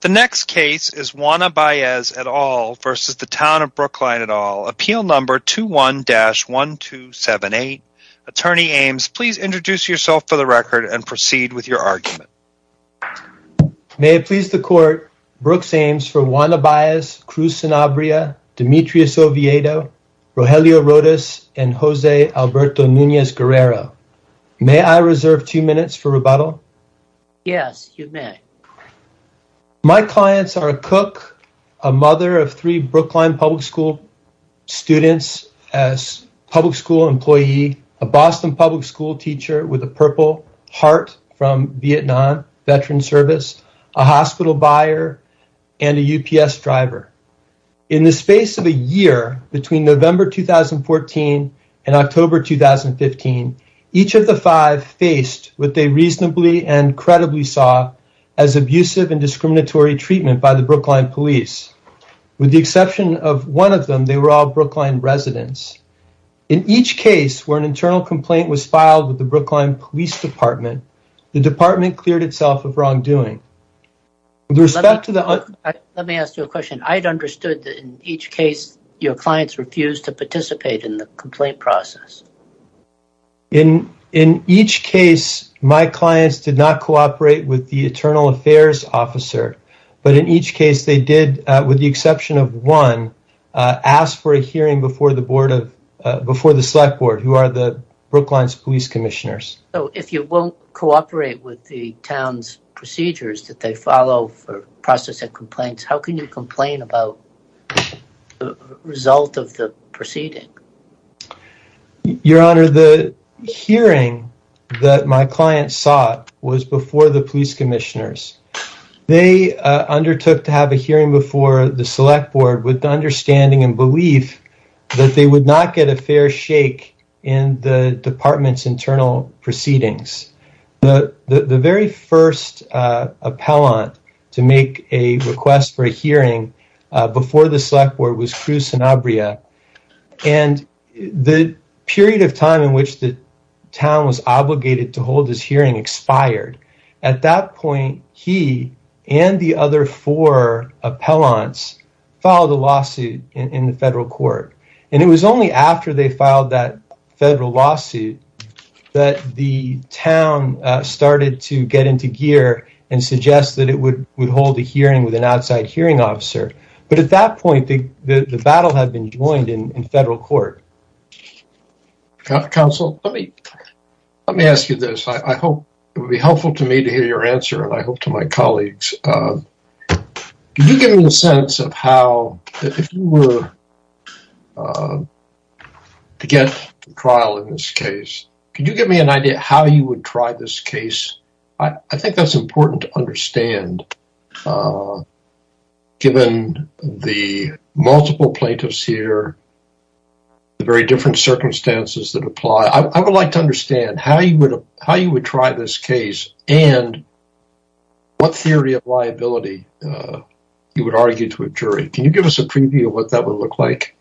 The next case is Juana Baez et al versus the Town of Brookline et al. Appeal number 21-1278. Attorney Ames, please introduce yourself for the record and proceed with your argument. May it please the court, Brooks Ames for Juana Baez, Cruz Sanabria, Demetrius Oviedo, Rogelio Rodas, and Jose Alberto Nunez Guerrero. May I reserve two minutes for rebuttal? Yes, you may. My clients are a cook, a mother of three Brookline public school students, a public school employee, a Boston public school teacher with a purple heart from Vietnam veteran service, a hospital buyer, and a UPS driver. In the space of a year between November 2014 and October 2015, each of the five faced what they reasonably and credibly saw as abusive and discriminatory treatment by the Brookline police. With the exception of one of them, they were all Brookline residents. In each case where an internal complaint was filed with the Brookline police department, the department cleared itself of wrongdoing. With respect to the- In each case, my clients did not cooperate with the internal affairs officer, but in each case they did, with the exception of one, ask for a hearing before the select board, who are the Brookline's police commissioners. So if you won't cooperate with the town's procedures that they follow for processing complaints, how can you complain about the result of the proceeding? Your honor, the hearing that my client sought was before the police commissioners. They undertook to have a hearing before the select board with the understanding and belief that they would not get a fair shake in the department's internal proceedings. The very first appellant to make a request for a hearing before the select board was Cruz Sanabria, and the period of time in which the town was obligated to hold his hearing expired. At that point, he and the other four appellants filed a lawsuit in the federal court, and it was only after they filed that federal lawsuit that the town started to get into gear and suggest that it would hold a hearing with an outside hearing officer. But at that point, the battle had been joined in federal court. Counsel, let me ask you this. I hope it would be helpful to me to hear your answer, and I hope to my colleagues. Could you give me a sense of how, if you were to get to trial in this case, could you give me an idea how you would try this case? I think that's important to understand, given the multiple plaintiffs here, the very different circumstances that apply. I would like to understand how you would try this case and what theory of liability you would argue to a jury. Can you give us a preview of what that would look like?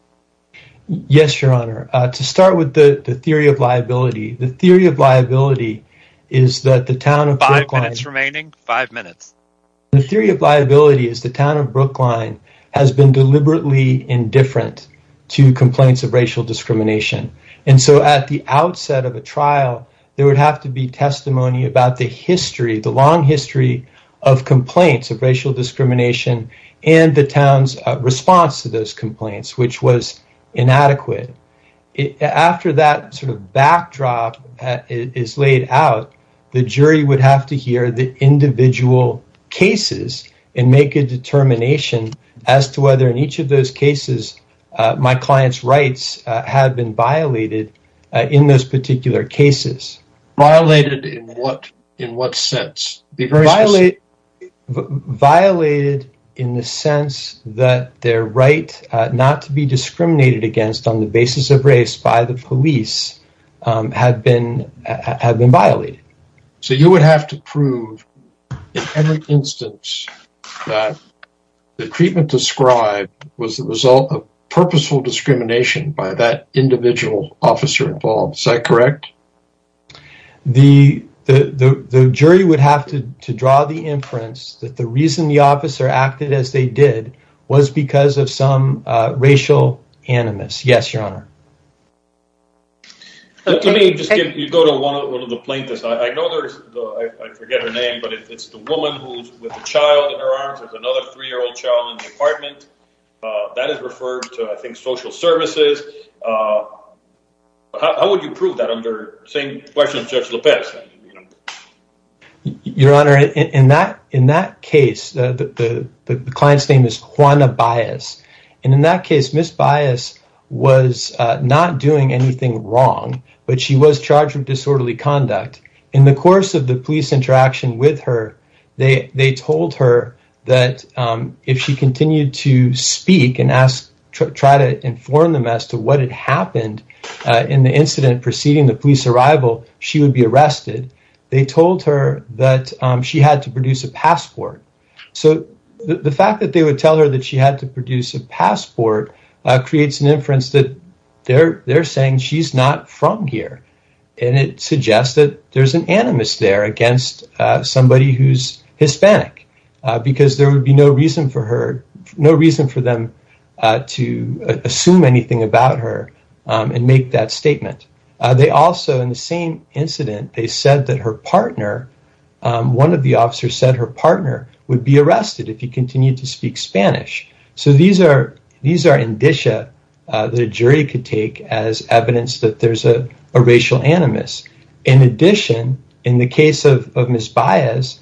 Yes, Your Honor. To start with the theory of liability, the theory of liability is that the town of Brookline... Five minutes remaining. Five minutes. The theory of liability is the town of Brookline has been deliberately indifferent to complaints of racial discrimination. And so at the outset of a trial, there would have to be testimony about the history, the long history of complaints of racial discrimination and the town's response to those complaints, which was inadequate. After that sort of backdrop is laid out, the jury would have to hear the individual cases and make a determination as to whether in each of those cases my client's rights had been violated in those particular cases. Violated in what sense? Violated in the sense that their right not to be discriminated against on the basis of race by the police had been violated. So you would have to prove in every instance that the treatment described was the result of purposeful discrimination by that to draw the inference that the reason the officer acted as they did was because of some racial animus. Yes, Your Honor. Let me just give you go to one of the plaintiffs. I know there's, I forget her name, but it's the woman who's with a child in her arms. There's another three-year-old child in the apartment. That is referred to, I think, social services. How would you prove that under same question of Judge Lopez? Your Honor, in that case, the client's name is Juana Baez, and in that case, Ms. Baez was not doing anything wrong, but she was charged with disorderly conduct. In the course of the police interaction with her, they told her that if she continued to speak and try to inform them as to what had happened in the incident preceding the police arrival, she would be arrested. They told her that she had to produce a passport. So the fact that they would tell her that she had to produce a passport creates an inference that they're saying she's not from here, and it suggests that there's an animus there against somebody who's Hispanic because there would be no reason for them to assume anything about her and make that statement. They also, in the same incident, they said that her partner, one of the officers said her partner would be arrested if he continued to speak Spanish. So these are indicia that a jury could take as evidence that there's a racial animus. In addition, in the case of Ms. Baez,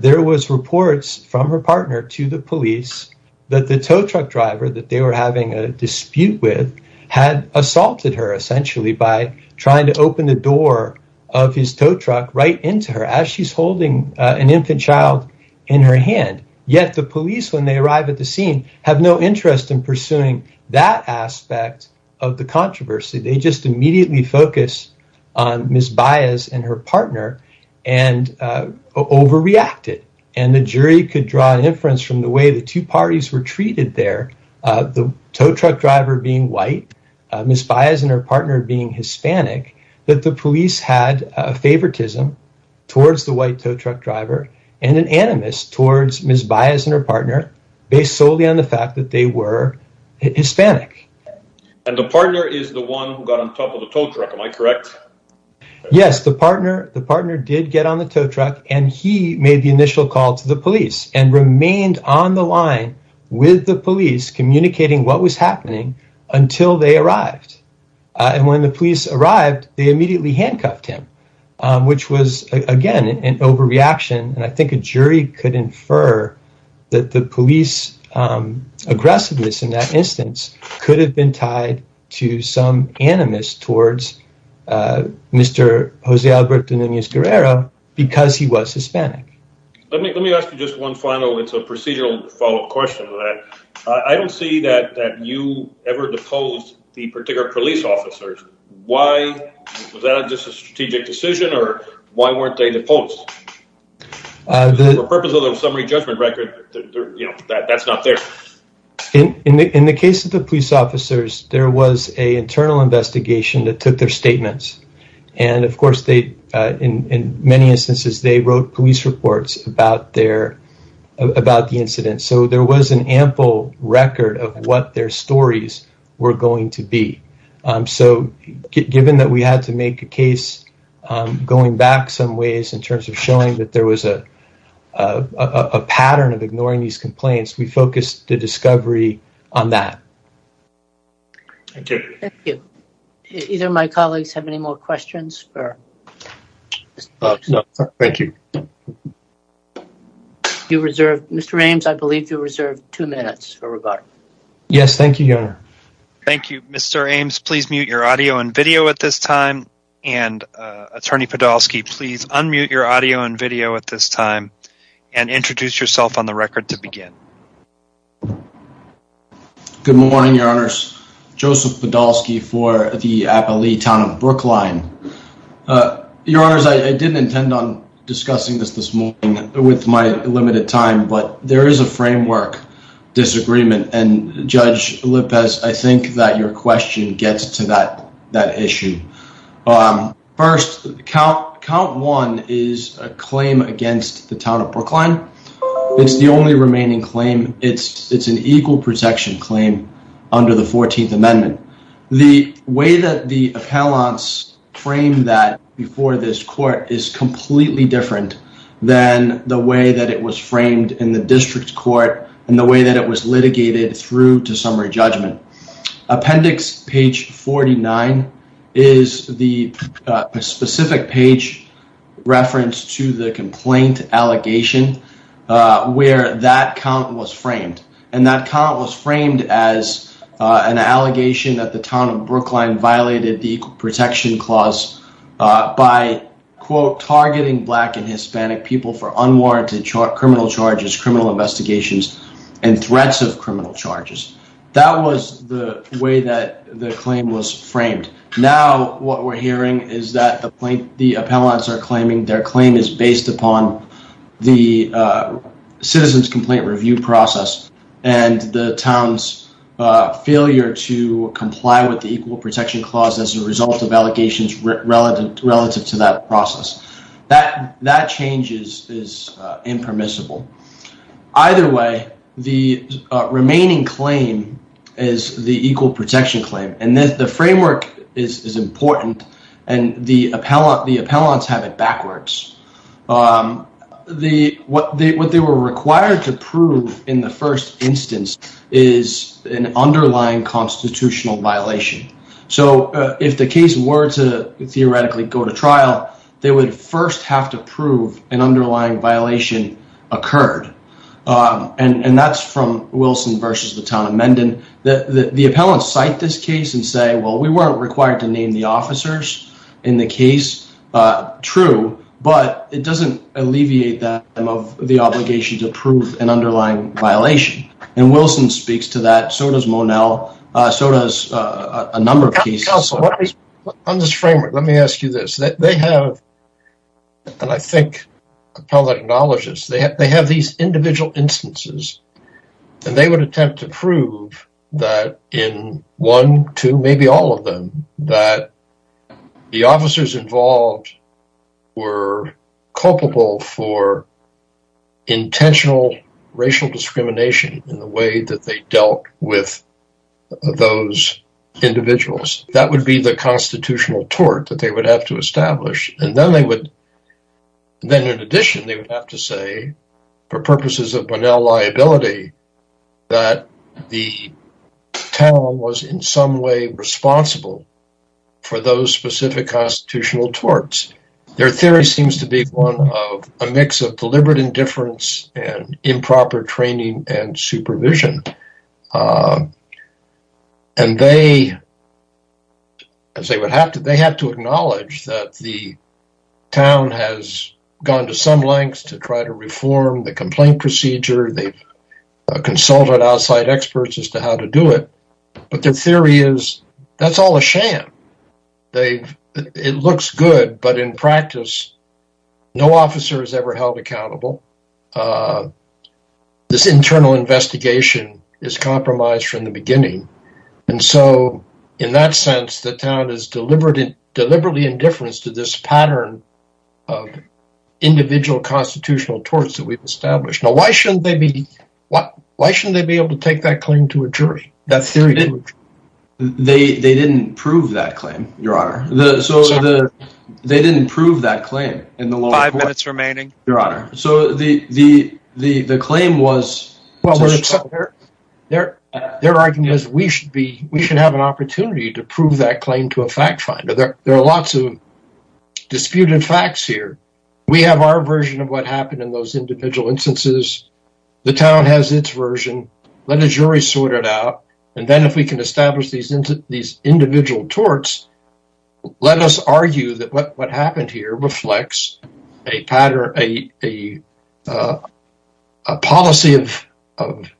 there was reports from her partner to the police that the tow truck driver that they were having a dispute with had assaulted her, essentially, by trying to open the door of his tow truck right into her as she's holding an infant child in her hand. Yet the police, when they arrive at the scene, have no interest in pursuing that aspect of the controversy. They just immediately focus on Ms. Baez and her partner and overreacted. And the jury could draw an inference from the way the two parties were treated there, the tow truck driver being white, Ms. Baez and her partner being Hispanic, that the police had a favoritism towards the white tow truck driver and an animus towards Ms. Baez and her partner based solely on the fact that they were Hispanic. And the partner is the one who got on top of the tow truck, am I correct? Yes, the partner did get on the tow truck and he made the initial call to the police and remained on the line with the police communicating what was happening until they arrived. And when the police arrived, they immediately handcuffed him, which was, again, an overreaction. And I think a instance could have been tied to some animus towards Mr. Jose Alberto Nunez-Guerrero because he was Hispanic. Let me ask you just one final, it's a procedural follow-up question. I don't see that you ever deposed the particular police officers. Was that just a strategic decision or why weren't they deposed? For the purpose of the summary judgment record, that's not there. In the case of the police officers, there was an internal investigation that took their statements. And of course, in many instances, they wrote police reports about the incident. So there was an ample record of what their stories were going to be. So given that we had to make a case going back some ways in terms of showing that there was a pattern of ignoring these complaints, we focused the discovery on that. Thank you. Thank you. Either of my colleagues have any more questions? No, thank you. Mr. Ames, I believe you reserved two minutes for regard. Yes, thank you, Your Honor. Thank you. Mr. Ames, please mute your audio and video at this time. And Attorney Podolsky, please unmute your audio and video at this time and introduce yourself on the record to begin. Good morning, Your Honors. Joseph Podolsky for the Appalachia Town of Brookline. Your Honors, I didn't intend on discussing this this morning with my limited time, but there is a framework disagreement. And Judge Lopez, I think that your question gets to that issue. First, count one is a claim against the Town of Brookline. It's the only remaining claim. It's an equal protection claim under the 14th Amendment. The way that the appellants frame that before this court is completely different than the way that it was framed in the district court and the way that it was litigated through to summary judgment. Appendix page 49 is the specific page reference to the complaint allegation where that count was framed. And that count was framed as an allegation that the Town of Brookline violated the equal protection clause by, quote, targeting Black and Hispanic people for unwarranted criminal charges, criminal investigations, and threats of criminal charges. That was the way that the claim was framed. Now, what we're hearing is that the appellants are claiming their claim is based upon the citizen's complaint review process and the Town's failure to comply with the equal protection clause as a result of allegations relative to that process. That change is impermissible. Either way, the remaining claim is the equal protection claim. And the framework is important and the appellants have it backwards. What they were required to prove in the first instance is an underlying constitutional violation. So, if the case were to theoretically go to trial, they would first have to prove an underlying violation occurred. And that's from Wilson versus the Town of Mendon. The appellants cite this case and say, well, we weren't required to name the officers in the case. True, but it doesn't alleviate them of the obligation to prove an underlying violation. And Wilson speaks to that, so does Monell, so does a number of cases. On this framework, let me ask you this. They have, and I think appellant acknowledges, they have these individual instances and they would attempt to prove that in one, two, maybe all of them, that the officers involved were culpable for intentional racial discrimination in the way that they dealt with those individuals. That would be the constitutional tort that they would have to establish. And then they would, then in addition, they would have to say for purposes of Monell liability, that the town was in some way responsible for those specific constitutional torts. Their theory seems to be one of a mix of deliberate indifference and improper training and supervision. And they, as they would have to, they have to acknowledge that the town has gone to some lengths to try to reform the complaint procedure. They've consulted outside experts as to how to do it, but their theory is that's all a sham. It looks good, but in practice, no officer is ever held accountable. This internal investigation is compromised from the beginning. And so in that sense, the town is deliberately indifference to this pattern of individual constitutional torts that we've established. Now, why shouldn't they be able to take that claim to a jury? They didn't prove that claim, your honor. They didn't prove that claim in the lower court. Five minutes remaining. Your honor. So the claim was... Their argument is we should be, we should have an opportunity to prove that claim to a fact finder. There are lots of disputed facts here. We have our version of what happened in those individual instances. The town has its version. Let the jury sort it out. And then if we can establish these individual torts, let us argue that what happened here reflects a pattern, a policy of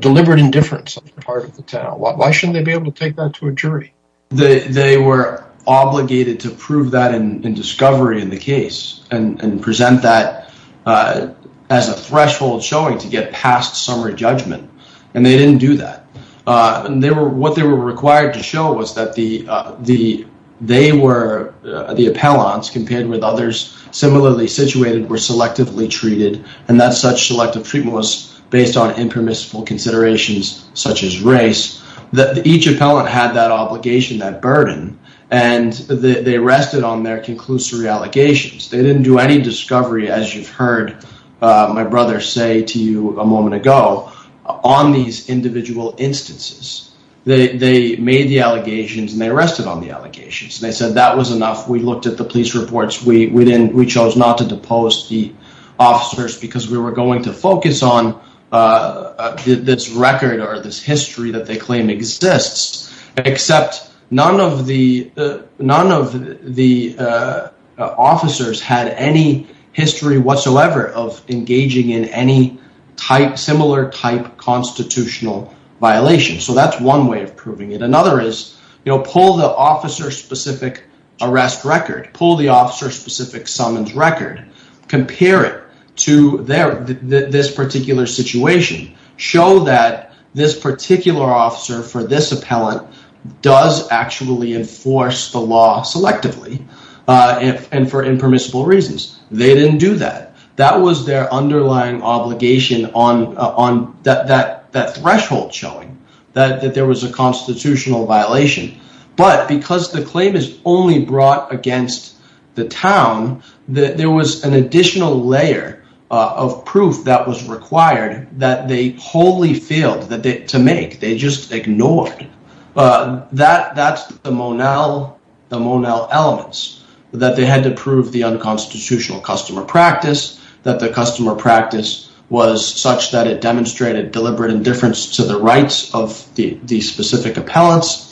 deliberate indifference on the part of the town. Why shouldn't they be able to take that to a jury? They were obligated to prove that in discovery in the case and present that as a threshold showing to get past summary judgment. And they didn't do that. And what they were required to show was that the appellants compared with others similarly situated were selectively treated. And that such selective treatment was based on impermissible considerations, such as race. Each appellant had that obligation, that burden, and they rested on their conclusory allegations. They didn't do any discovery, as you've heard my brother say to you a moment ago, on these individual instances. They made the allegations and they rested on the allegations. They said that was enough. We looked at the police reports. We chose not to depose the officers because we were going to focus on this record or this history that they claim exists, except none of the officers had any history whatsoever of engaging in any similar type constitutional violation. So that's one way of proving it. Another is pull the officer-specific arrest record, pull the officer-specific summons record, compare it to this particular situation, show that this particular officer for this appellant does actually enforce the law selectively and for impermissible reasons. They didn't do that. That was their underlying obligation on that threshold showing that there was a constitutional violation. But because the claim is only brought against the town, there was an additional layer of proof that was required that they wholly failed to make. They just ignored. That's the Monell elements, that they had to prove the unconstitutional customer practice, that the customer practice was such that it demonstrated deliberate indifference to the rights of the specific appellants,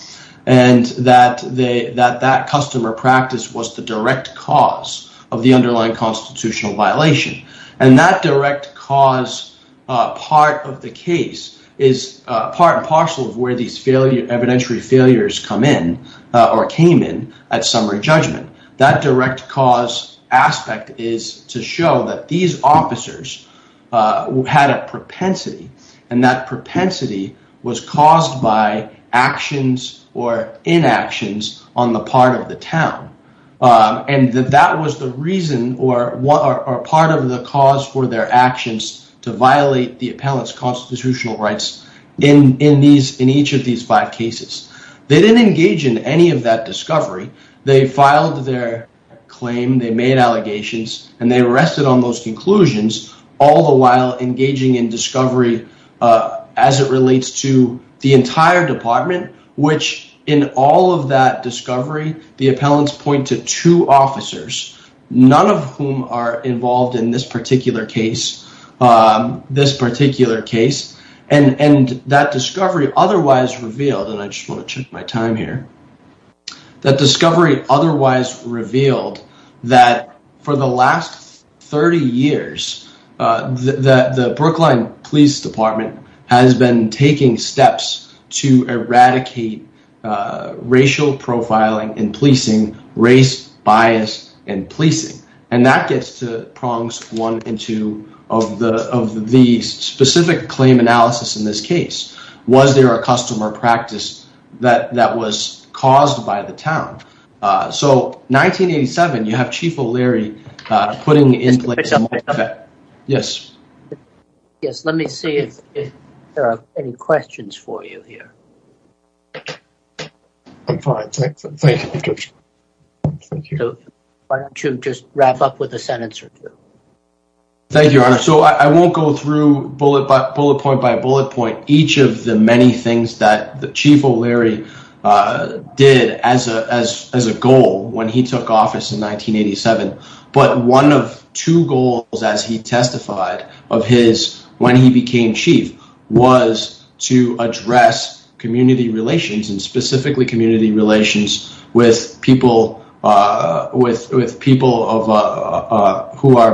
and that that customer practice was the direct cause of the underlying constitutional violation. And that direct cause part of the case is part and parcel of where these evidentiary failures come in or came in at summary judgment. That direct cause aspect is to show that these officers had a propensity, and that propensity was caused by actions or inactions on the part of the town. And that was the reason or part of the cause for their actions to violate the appellant's constitutional rights in each of these five cases. They didn't engage in any of that discovery. They filed their claim, they made allegations, and they rested on those conclusions, all the while engaging in discovery as it relates to the entire department, which in all of that discovery, the appellants point to two officers, none of whom are involved in this particular case. And that discovery otherwise revealed, and I just want to check that the Brookline Police Department has been taking steps to eradicate racial profiling in policing, race bias in policing. And that gets to prongs one and two of the specific claim analysis in this case. Was there a customer practice that was caused by the town? So 1987, you have that. Yes. Yes. Let me see if there are any questions for you here. I'm fine. Thank you. Why don't you just wrap up with a sentence or two? Thank you, Your Honor. So I won't go through bullet point by bullet point each of the many things that the Chief O'Leary did as a goal when he took office in 1987. But one of two goals as he testified of his when he became chief was to address community relations and specifically community relations with people who are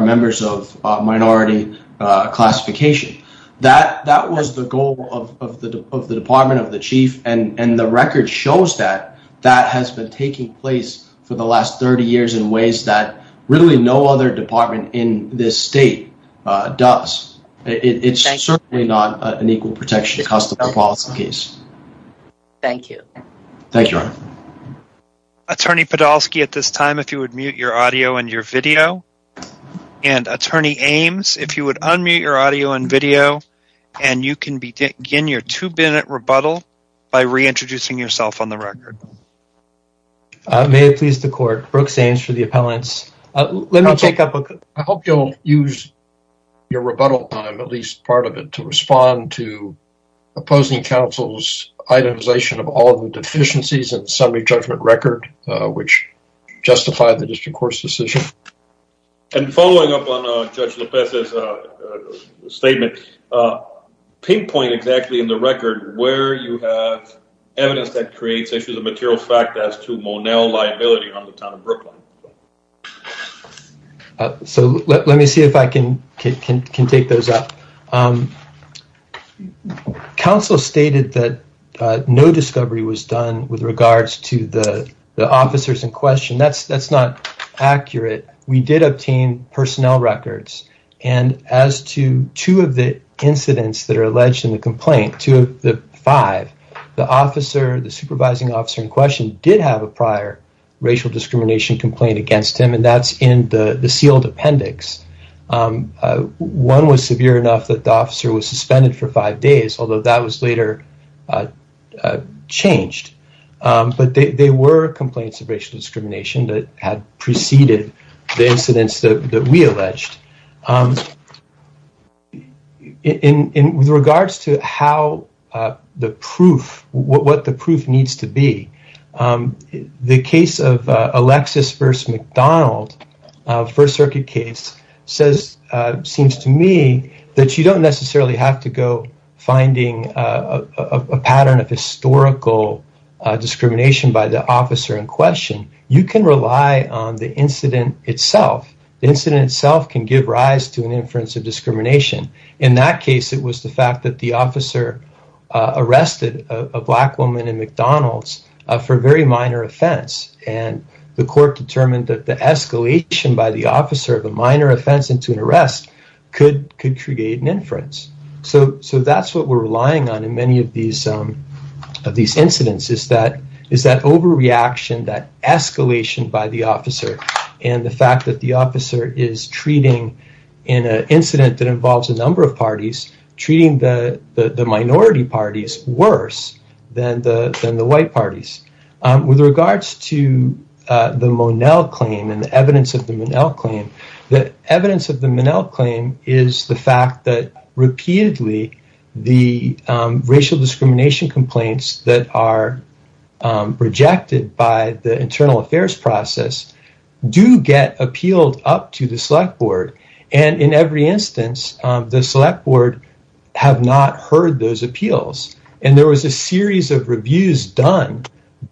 members of minority classification. That was the goal of the Department of the Chief. And the record shows that that has been taking place for the last 30 years in ways that really no other department in this state does. It's certainly not an equal protection customer policy case. Thank you. Thank you, Your Honor. Attorney Podolsky at this time, if you would mute your audio and your video. And Attorney Ames, if you would unmute your audio and video, and you can begin your two minute rebuttal by reintroducing yourself on the record. May it please the court, Brooks Ames for the appellants. Let me take up a... I hope you'll use your rebuttal time, at least part of it, to respond to opposing counsel's itemization of all the deficiencies in the summary judgment record, which justified the district court's decision. And following up on Judge Lopez's statement, pinpoint exactly in the record where you have evidence that creates issues of material fact as to Monell liability on the town of Brooklyn. So let me see if I can take those up. Counsel stated that no discovery was done with regards to the officers in question. That's not accurate. We did obtain personnel records. And as to two of the incidents that are alleged in the complaint, two of the five, the officer, the supervising officer in question did have a prior racial discrimination complaint against him. And that's in the sealed appendix. One was severe enough that the officer was suspended for five days, although that was later changed. But they were complaints of racial discrimination that had preceded the incidents that we alleged. With regards to how the proof, what the proof needs to be, the case of Alexis versus McDonald, First Circuit case, seems to me that you don't necessarily have to go finding a pattern of historical discrimination by the officer in question. You can rely on the incident itself. The incident itself can give rise to an inference of discrimination. In that case, it was the fact that the officer arrested a black woman in McDonald's for very minor offense. And the court determined that the escalation by the officer of a minor offense into an arrest could create an inference. So that's what we're relying on in many of these incidents, is that overreaction, that escalation by the officer, and the fact that the officer is treating in an incident that involves a number of parties, treating the minority parties worse than the white parties. With regards to the Monell claim and the evidence of the Monell claim, the evidence of the Monell claim is the fact that repeatedly the racial discrimination complaints that are rejected by the internal affairs process do get appealed up to the select board. And in every instance, the select board have not heard those appeals. And there was a series of reviews done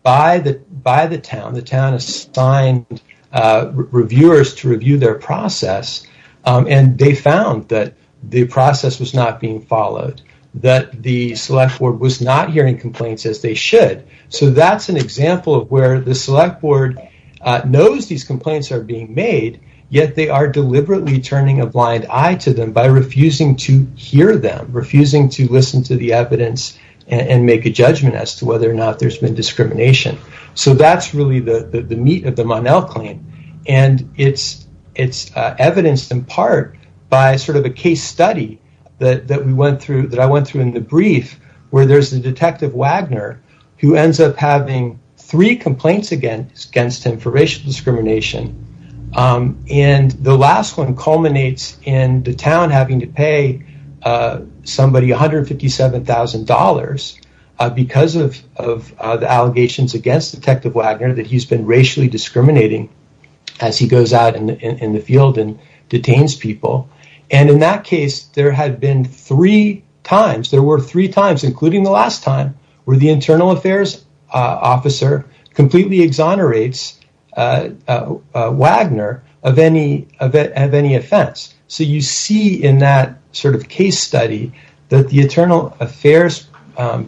by the town. The town assigned reviewers to review their process, and they found that the process was not being followed, that the select board was not hearing complaints as they should. So that's an example of where the select board knows these complaints are being made, yet they are deliberately turning a blind eye to them by refusing to hear them, refusing to listen to the evidence and make a judgment as to whether or not there's been discrimination. So that's the meat of the Monell claim, and it's evidenced in part by a case study that I went through in the brief where there's a detective Wagner who ends up having three complaints against him for racial discrimination. And the last one culminates in the town having to pay somebody $157,000 because of the allegations against Detective Wagner that he's been racially discriminating as he goes out in the field and detains people. And in that case, there had been three times, there were three times, including the last time, where the internal affairs officer completely exonerates Wagner of any offense. So you see in that sort of case study that the internal affairs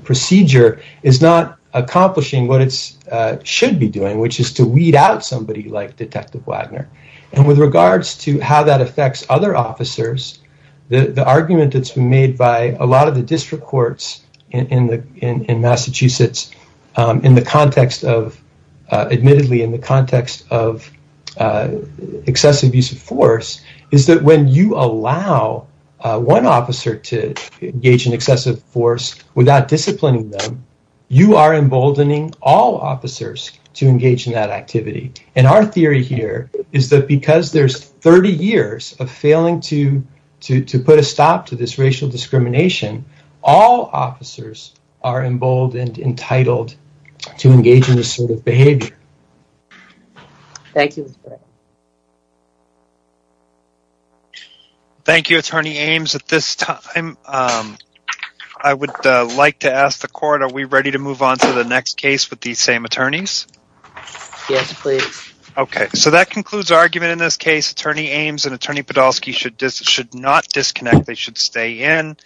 procedure is not accomplishing what it should be doing, which is to weed out somebody like Detective Wagner. And with regards to how that affects other officers, the argument that's been made by a lot of the district courts in Massachusetts admittedly in the context of one officer to engage in excessive force without disciplining them, you are emboldening all officers to engage in that activity. And our theory here is that because there's 30 years of failing to put a stop to this racial discrimination, all officers are emboldened, entitled to engage in this sort of behavior. Thank you. Thank you, Attorney Ames. At this time, I would like to ask the court, are we ready to move on to the next case with these same attorneys? Yes, please. Okay, so that concludes argument in this case. Attorney Ames and Attorney Podolsky should not disconnect, they should stay in.